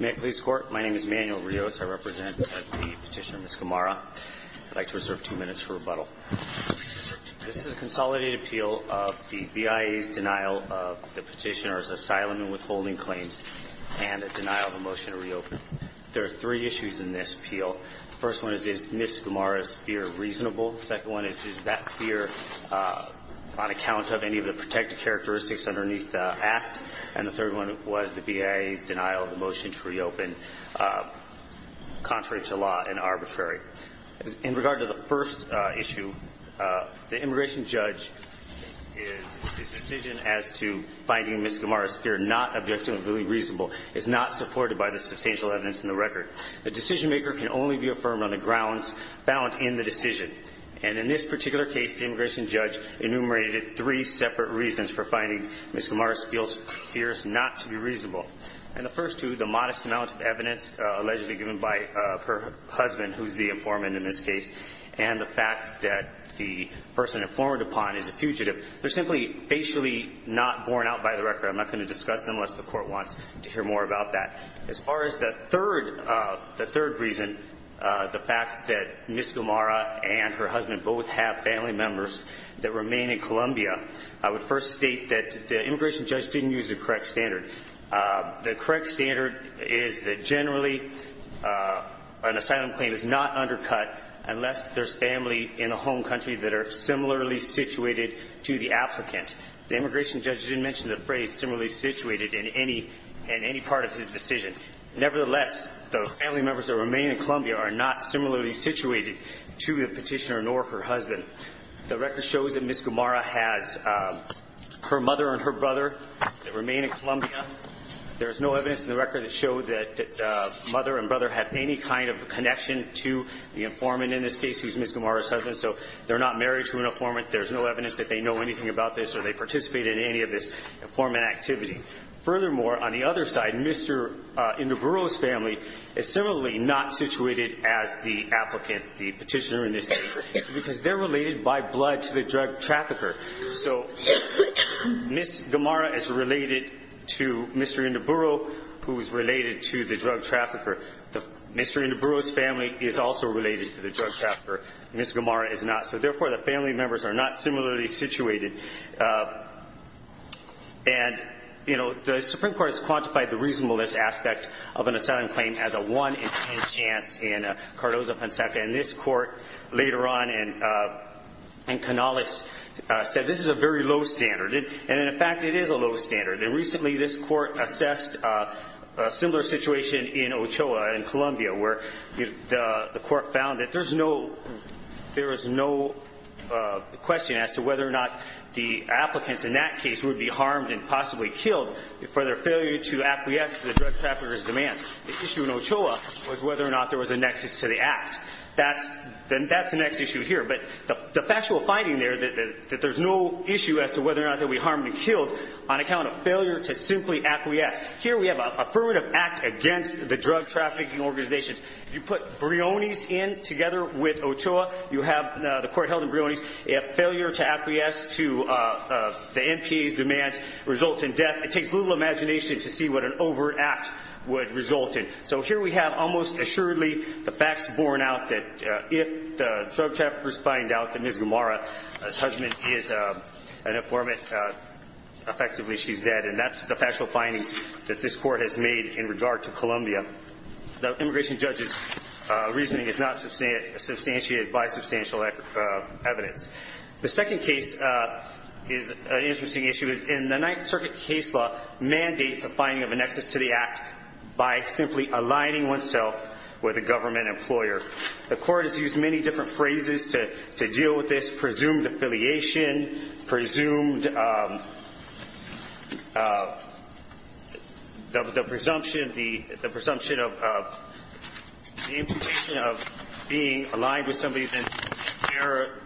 May it please the Court, my name is Manuel Rios. I represent the petitioner Ms. Gamarra. I'd like to reserve two minutes for rebuttal. This is a consolidated appeal of the BIE's denial of the petitioner's asylum and withholding claims and a denial of a motion to reopen. There are three issues in this appeal. The first one is, is Ms. Gamarra's fear reasonable? The second one is, is that fear on account of any of the protected characteristics underneath the act? And the third one was the BIE's denial of the motion to reopen contrary to law and arbitrary. In regard to the first issue, the immigration judge's decision as to finding Ms. Gamarra's fear not objectively reasonable is not supported by the substantial evidence in the record. The decisionmaker can only be affirmed on the grounds found in the decision. And in this particular case, the immigration judge enumerated three separate reasons for finding Ms. Gamarra's fears not to be reasonable. And the first two, the modest amount of evidence allegedly given by her husband, who's the informant in this case, and the fact that the person informed upon is a fugitive, they're simply facially not borne out by the record. I'm not going to discuss them unless the Court wants to hear more about that. As far as the third reason, the fact that Ms. Gamarra and her husband both have family members that remain in Colombia, I would first state that the immigration judge didn't use the correct standard. The correct standard is that generally an asylum claim is not undercut unless there's family in the home country that are similarly situated to the applicant. The immigration judge didn't mention the phrase similarly situated in any part of his decision. Nevertheless, the family members that remain in Colombia are not similarly situated to the petitioner nor her husband. The record shows that Ms. Gamarra has her mother and her brother that remain in Colombia. There is no evidence in the record that showed that mother and brother have any kind of connection to the informant in this case who's Ms. Gamarra's husband. So they're not married to an informant. There's no evidence that they know anything about this or they participate in any of this informant activity. Furthermore, on the other side, Mr. Induburo's family is similarly not situated as the applicant, the petitioner in this case, because they're related by blood to the drug trafficker. So Ms. Gamarra is related to Mr. Induburo, who is related to the drug trafficker. Mr. Induburo's family is also related to the drug trafficker. Ms. Gamarra is not. So, therefore, the family members are not similarly situated. And, you know, the Supreme Court has quantified the reasonableness aspect of an asylum claim as a 1 in 10 chance in Cardozo-Penseca. And this court later on in Canales said this is a very low standard. And, in fact, it is a low standard. And recently this court assessed a similar situation in Ochoa, in Colombia, where the court found that there is no question as to whether or not the applicants in that case would be harmed and possibly killed for their failure to acquiesce to the drug traffickers' demands. The issue in Ochoa was whether or not there was a nexus to the act. That's the next issue here. But the factual finding there that there's no issue as to whether or not they'll be harmed and killed on account of failure to simply acquiesce. Here we have an affirmative act against the drug trafficking organizations. If you put Briones in together with Ochoa, you have the court held in Briones. If failure to acquiesce to the NPA's demands results in death, it takes little imagination to see what an overt act would result in. So here we have almost assuredly the facts borne out that if the drug traffickers find out that Ms. Gamarra's husband is an informant, effectively she's dead. And that's the factual findings that this court has made in regard to Columbia. The immigration judge's reasoning is not substantiated by substantial evidence. The second case is an interesting issue. The Ninth Circuit case law mandates a finding of a nexus to the act by simply aligning oneself with a government employer. The court has used many different phrases to deal with this, presumed the presumption of being aligned with somebody that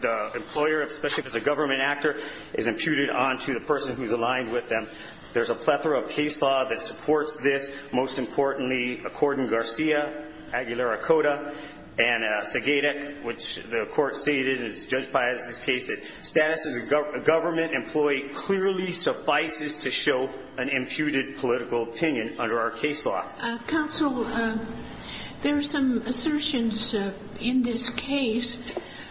the employer, especially if it's a government actor, is imputed onto the person who's aligned with them. There's a plethora of case law that supports this, most importantly, according to Garcia, Aguilera-Cota, and Segadec, which the court stated in Judge Piazza's case that status as a government employee clearly suffices to show an imputed political opinion under our case law. Counsel, there are some assertions in this case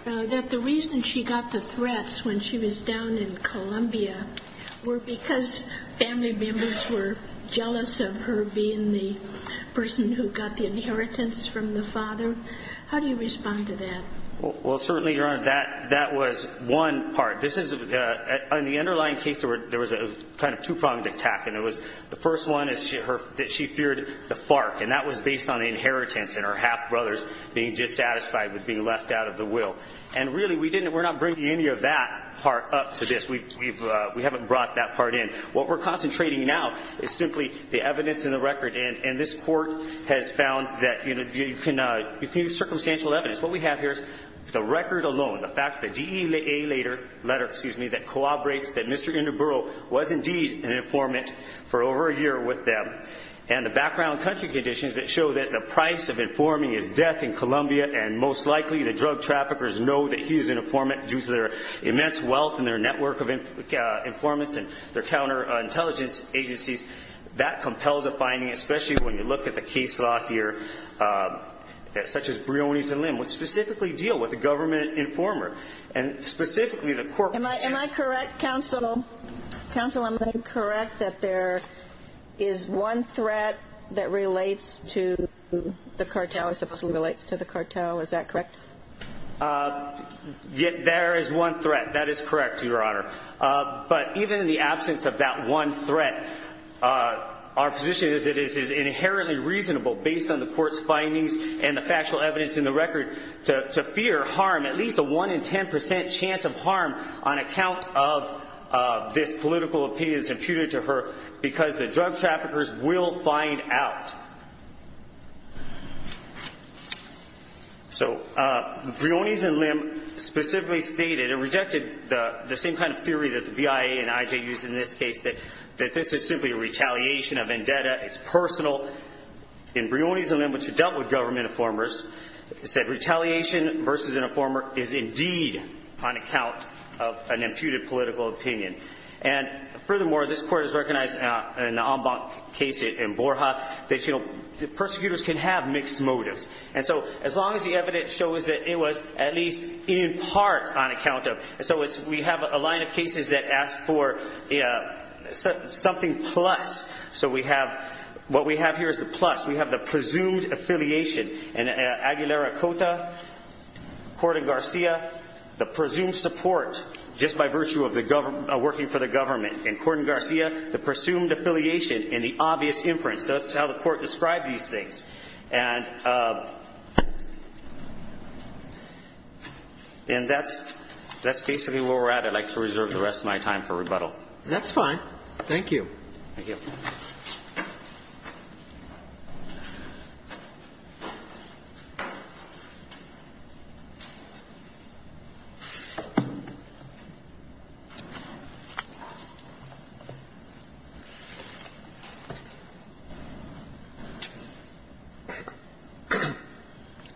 that the reason she got the threats when she was down in Columbia were because family members were jealous of her being the person who got the inheritance from the father. How do you respond to that? Well, certainly, Your Honor, that was one part. In the underlying case, there was a kind of two-pronged attack. The first one is that she feared the FARC, and that was based on the inheritance and her half-brothers being dissatisfied with being left out of the will. And really, we're not bringing any of that part up to this. We haven't brought that part in. What we're concentrating now is simply the evidence and the record. And this court has found that you can use circumstantial evidence. What we have here is the record alone, the fact that the DEA letter, excuse me, that corroborates that Mr. Induboro was indeed an informant for over a year with them and the background country conditions that show that the price of informing is death in Columbia and most likely the drug traffickers know that he's an informant due to their immense wealth and their network of informants and their counterintelligence agencies. That compels a finding, especially when you look at the case law here, such as Brioni's and Lim, which specifically deal with a government informer. And specifically, the court was saying— Am I correct, counsel? Counsel, am I correct that there is one threat that relates to the cartel, supposedly relates to the cartel? Is that correct? There is one threat. That is correct, Your Honor. But even in the absence of that one threat, our position is it is inherently reasonable, based on the court's findings and the factual evidence in the record, to fear harm, at least a 1 in 10 percent chance of harm on account of this political opinion that's imputed to her because the drug traffickers will find out. So, Brioni's and Lim specifically stated— it rejected the same kind of theory that the BIA and IJ used in this case, that this is simply a retaliation, a vendetta, it's personal. In Brioni's and Lim, which have dealt with government informers, it said retaliation versus an informer is indeed on account of an imputed political opinion. And furthermore, this court has recognized an en banc case in Borja that, you know, the persecutors can have mixed motives. And so, as long as the evidence shows that it was at least in part on account of— so we have a line of cases that ask for something plus. So we have—what we have here is the plus. We have the presumed affiliation. In Aguilera-Cota, Corden-Garcia, the presumed support just by virtue of working for the government. In Corden-Garcia, the presumed affiliation in the obvious inference. That's how the Court described these things. And that's basically where we're at. I'd like to reserve the rest of my time for rebuttal. Thank you. Thank you.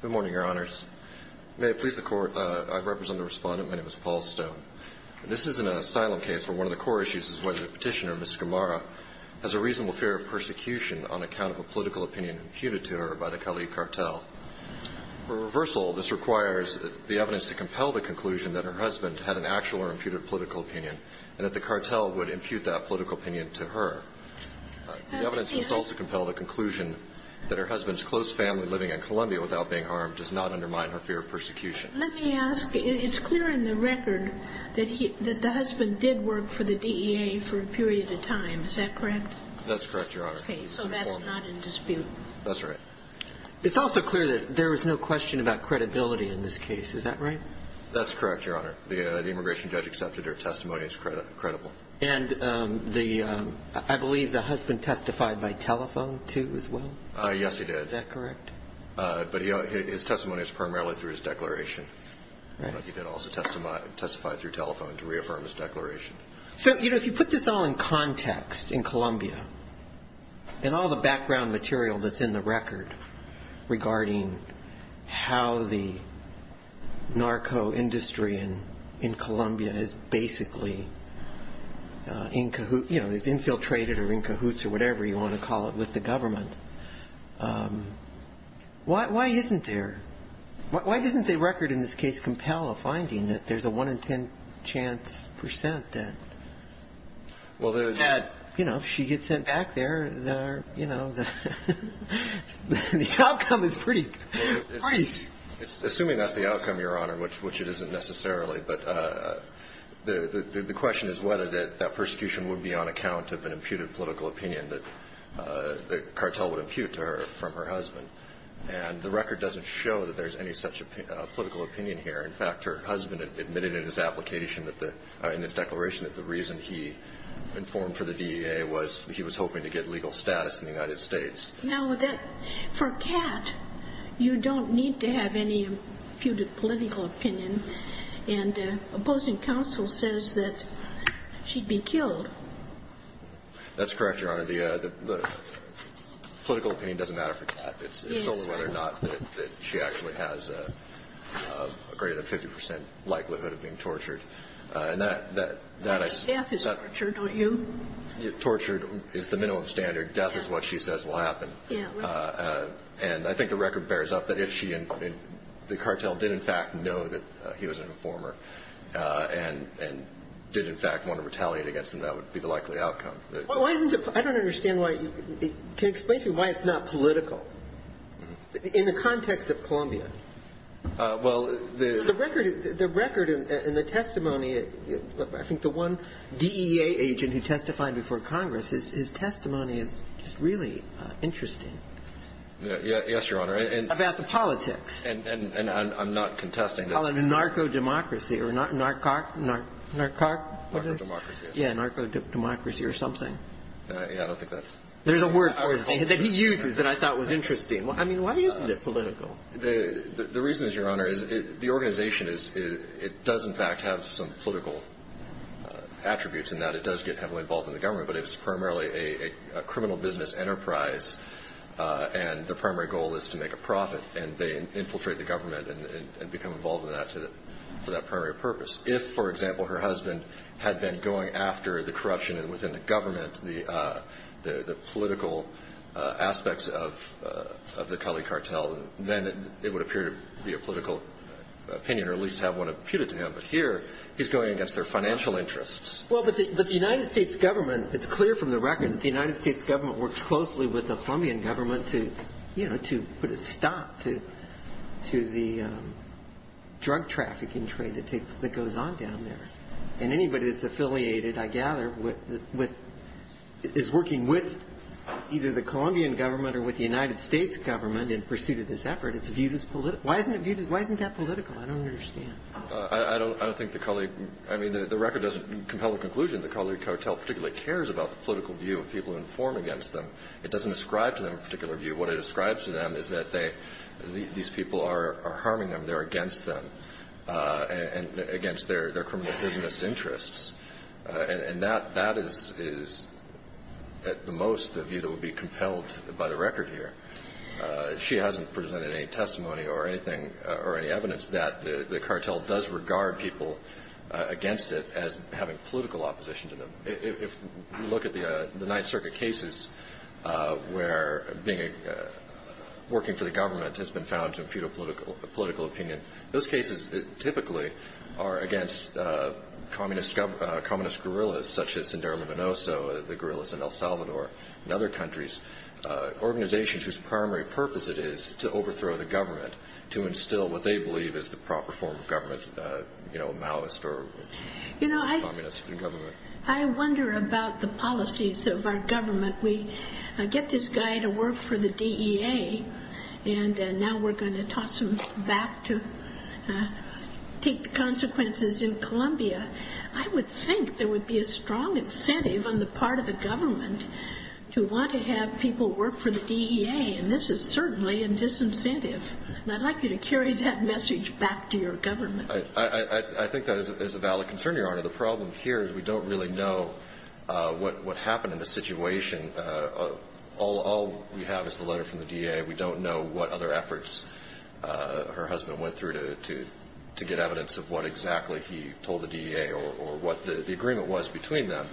Good morning, Your Honors. May it please the Court. I represent the Respondent. My name is Paul Stone. This is an asylum case where one of the core issues is whether the Petitioner, Ms. Scamara, has a reasonable fear of persecution on account of a political opinion imputed to her by the Cali cartel. For reversal, this requires the evidence to compel the conclusion that her husband impute that political opinion to her. The evidence must also compel the conclusion that her husband's close family living in Colombia without being harmed does not undermine her fear of persecution. Let me ask. It's clear in the record that the husband did work for the DEA for a period of time. Is that correct? That's correct, Your Honor. Okay. So that's not in dispute. That's right. It's also clear that there was no question about credibility in this case. Is that right? That's correct, Your Honor. The immigration judge accepted her testimony as credible. And I believe the husband testified by telephone, too, as well? Yes, he did. Is that correct? But his testimony was primarily through his declaration. But he did also testify through telephone to reaffirm his declaration. So, you know, if you put this all in context in Colombia, and all the background material that's in the record regarding how the narco industry in Colombia is basically, you know, is infiltrated or in cahoots or whatever you want to call it with the government, why isn't there? Why doesn't the record in this case compel a finding that there's a 1 in 10 chance percent that, you know, if she gets sent back there, you know, the outcome is pretty great. Assuming that's the outcome, Your Honor, which it isn't necessarily, but the question is whether that persecution would be on account of an imputed political opinion that the cartel would impute to her from her husband. And the record doesn't show that there's any such political opinion here. In fact, her husband admitted in his application that the – in his declaration that the reason he informed for the DEA was he was hoping to get legal status in the United States. Now, that – for Kat, you don't need to have any imputed political opinion, and opposing counsel says that she'd be killed. That's correct, Your Honor. The political opinion doesn't matter for Kat. It's solely whether or not that she actually has a greater than 50 percent likelihood of being tortured. Death is torture, don't you? Torture is the minimum standard. Death is what she says will happen. Yeah. And I think the record bears up that if she and the cartel did in fact know that he was an informer and did in fact want to retaliate against him, that would be the likely outcome. Why isn't it – I don't understand why – can you explain to me why it's not political? In the context of Columbia. Well, the – The record and the testimony, I think the one DEA agent who testified before me is really interesting. Yes, Your Honor. About the politics. And I'm not contesting that. Oh, the narco-democracy or narcoc – narcoc? Narco-democracy. Yeah, narco-democracy or something. Yeah, I don't think that's – There's a word for it that he uses that I thought was interesting. I mean, why isn't it political? The reason is, Your Honor, is the organization is – it does in fact have some political attributes in that. It does get heavily involved in the government. But it is primarily a criminal business enterprise, and the primary goal is to make a profit. And they infiltrate the government and become involved in that for that primary purpose. If, for example, her husband had been going after the corruption within the government, the political aspects of the Culley cartel, then it would appear to be a political opinion or at least have one imputed to him. But here, he's going against their financial interests. Well, but the United States government – it's clear from the record that the United States government works closely with the Colombian government to, you know, to put a stop to the drug trafficking trade that goes on down there. And anybody that's affiliated, I gather, with – is working with either the Colombian government or with the United States government in pursuit of this effort, it's viewed as political. Why isn't it viewed – why isn't that political? I don't understand. I don't think the Culley – I mean, the record doesn't compel a conclusion that the Culley cartel particularly cares about the political view of people who inform against them. It doesn't ascribe to them a particular view. What it ascribes to them is that they – these people are harming them, they're against them, and against their criminal business interests. And that is, at the most, the view that would be compelled by the record here. She hasn't presented any testimony or anything – or any evidence that the cartel does regard people against it as having political opposition to them. If you look at the Ninth Circuit cases where being – working for the government has been found to impute a political opinion, those cases typically are against communist guerrillas such as Sindrome Menoso, the guerrillas in El Salvador, and other countries. Organizations whose primary purpose it is to overthrow the government, to instill what they believe is the proper form of government, you know, Maoist or communist government. You know, I wonder about the policies of our government. We get this guy to work for the DEA, and now we're going to toss him back to take the consequences in Colombia. I would think there would be a strong incentive on the part of the government to want to have people work for the DEA, and this is certainly a disincentive. And I'd like you to carry that message back to your government. I think that is a valid concern, Your Honor. The problem here is we don't really know what happened in the situation. All we have is the letter from the DEA. We don't know what other efforts her husband went through to get evidence of what exactly he told the DEA or what the agreement was between them.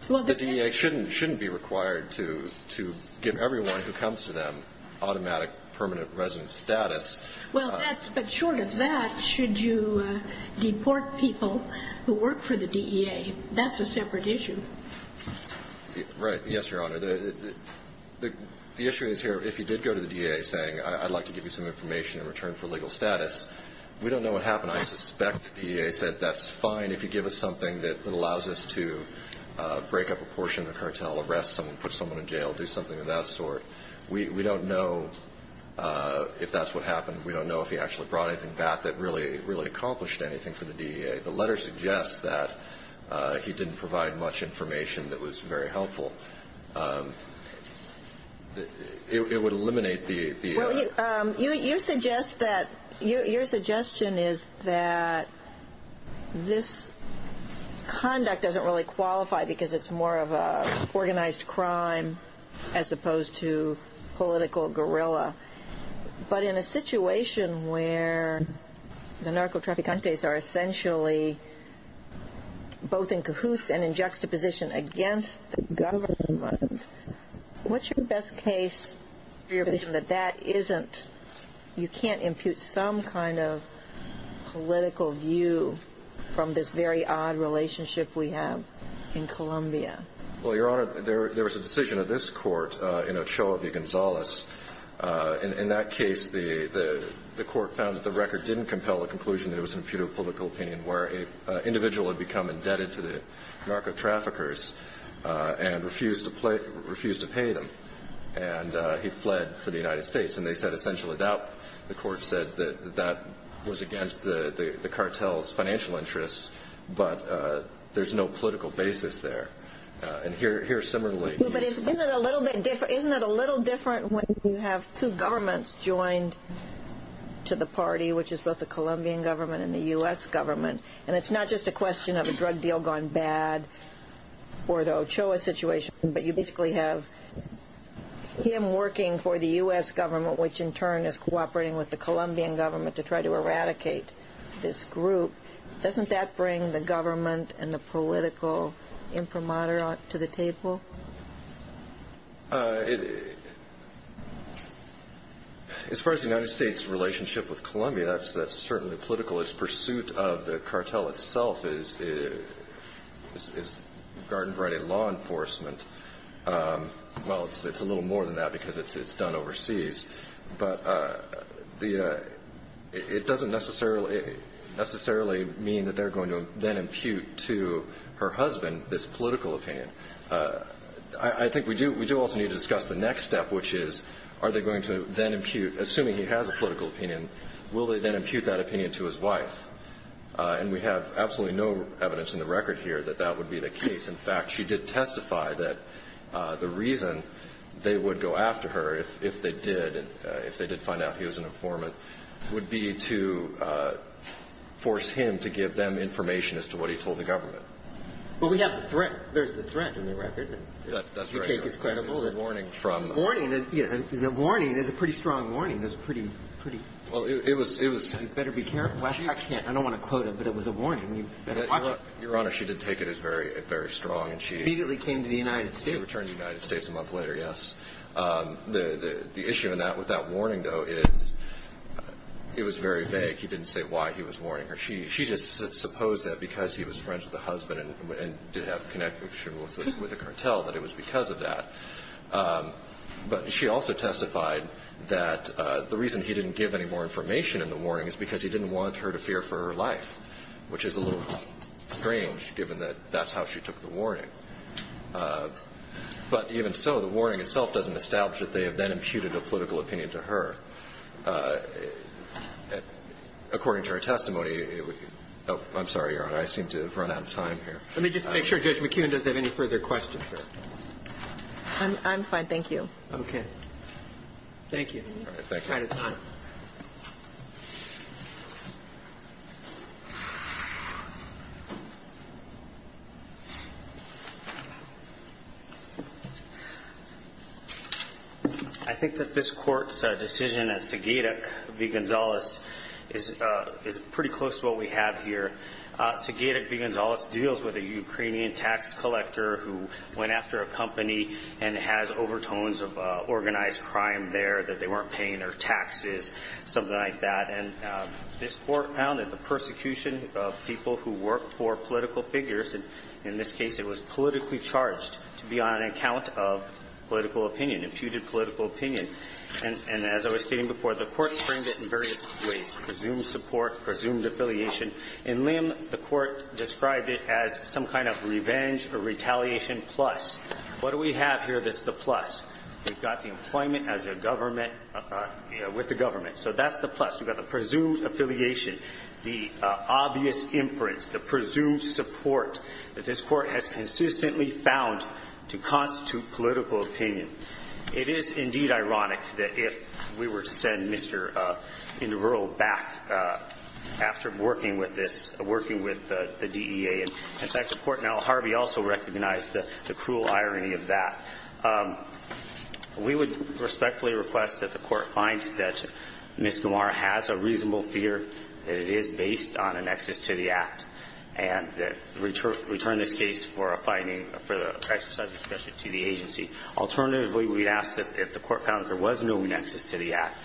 The DEA shouldn't be required to give everyone who comes to them automatic permanent residence status. Well, but short of that, should you deport people who work for the DEA? That's a separate issue. Right. Yes, Your Honor. The issue is here, if you did go to the DEA saying I'd like to give you some information in return for legal status, we don't know what happened. I suspect the DEA said that's fine if you give us something that allows us to break up a portion of the cartel, arrest someone, put someone in jail, do something of that sort. We don't know if that's what happened. We don't know if he actually brought anything back that really accomplished anything for the DEA. The letter suggests that he didn't provide much information that was very helpful. It would eliminate the... Well, your suggestion is that this conduct doesn't really qualify because it's more of an organized crime as opposed to political guerrilla. But in a situation where the narcotraficantes are essentially both in cahoots and in juxtaposition against the government, what's your best case for your position that that isn't, you can't impute some kind of political view from this very odd relationship we have in Colombia? Well, Your Honor, there was a decision of this court in Ochoa v. Gonzales. In that case, the court found that the record didn't compel the conclusion that it was an imputable public opinion where an individual had become indebted to the narcotraffickers and refused to pay them. And he fled for the United States. And they said essentially that the court said that that was against the cartel's financial interests, but there's no political basis there. And here similarly... But isn't it a little bit different when you have two governments joined to the party, which is both the Colombian government and the U.S. government? And it's not just a question of a drug deal gone bad or the Ochoa situation, but you basically have him working for the U.S. government, which in turn is cooperating with the Colombian government to try to eradicate this group. Doesn't that bring the government and the political imprimatur to the table? As far as the United States' relationship with Colombia, that's certainly political. Its pursuit of the cartel itself is Garden Friday law enforcement. Well, it's a little more than that because it's done overseas. But it doesn't necessarily mean that they're going to then impute to her husband this political opinion. I think we do also need to discuss the next step, which is are they going to then impute, assuming he has a political opinion, will they then impute that opinion to his wife? And we have absolutely no evidence in the record here that that would be the case. In fact, she did testify that the reason they would go after her if they did, if they did find out he was an informant, would be to force him to give them information as to what he told the government. But we have the threat. There's the threat in the record. That's right. You take his credible. There's a warning from. Warning. There's a pretty strong warning. There's a pretty, pretty. Well, it was. You better be careful. I don't want to quote it, but it was a warning. You better watch it. Your Honor, she did take it as very strong. She immediately came to the United States. She returned to the United States a month later, yes. The issue with that warning, though, is it was very vague. He didn't say why he was warning her. She just supposed that because he was friends with the husband and did have connections with the cartel, that it was because of that. But she also testified that the reason he didn't give any more information in the warning is because he didn't want her to fear for her life, which is a little strange, given that that's how she took the warning. But even so, the warning itself doesn't establish that they have then imputed a political opinion to her. According to her testimony, I'm sorry, Your Honor. I seem to have run out of time here. Let me just make sure. Judge McKeon, does have any further questions? I'm fine. Thank you. Okay. Thank you. All right. It's time. I think that this court's decision at Segedik v. Gonzales is pretty close to what we have here. Segedik v. Gonzales deals with a Ukrainian tax collector who went after a company and has overtones of organized crime there that they weren't paying their taxes, something like that. And this Court found that the persecution of people who work for political figures, and in this case it was politically charged to be on account of political opinion, imputed political opinion. And as I was stating before, the Court framed it in various ways, presumed support, presumed affiliation. In Lim, the Court described it as some kind of revenge or retaliation plus. What do we have here that's the plus? We've got the employment as a government, with the government. So that's the plus. We've got the presumed affiliation, the obvious inference, the presumed support that this Court has consistently found to constitute political opinion. It is, indeed, ironic that if we were to send Mr. Ingeroll back after working with this, working with the DEA. In fact, the Court in L. Harvey also recognized the cruel irony of that. We would respectfully request that the Court find that Ms. Gamarra has a reasonable fear that it is based on a nexus to the Act, and return this case for a finding for the exercise of discretion to the agency. Alternatively, we'd ask that if the Court found there was no nexus to the Act,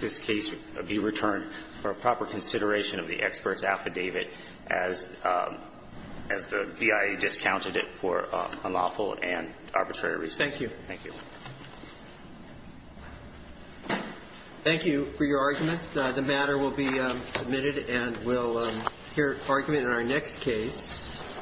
this case be returned for proper consideration of the expert's affidavit as the BIA discounted it for unlawful and arbitrary reasons. Thank you. Thank you. Thank you for your arguments. The matter will be submitted, and we'll hear argument in our next case.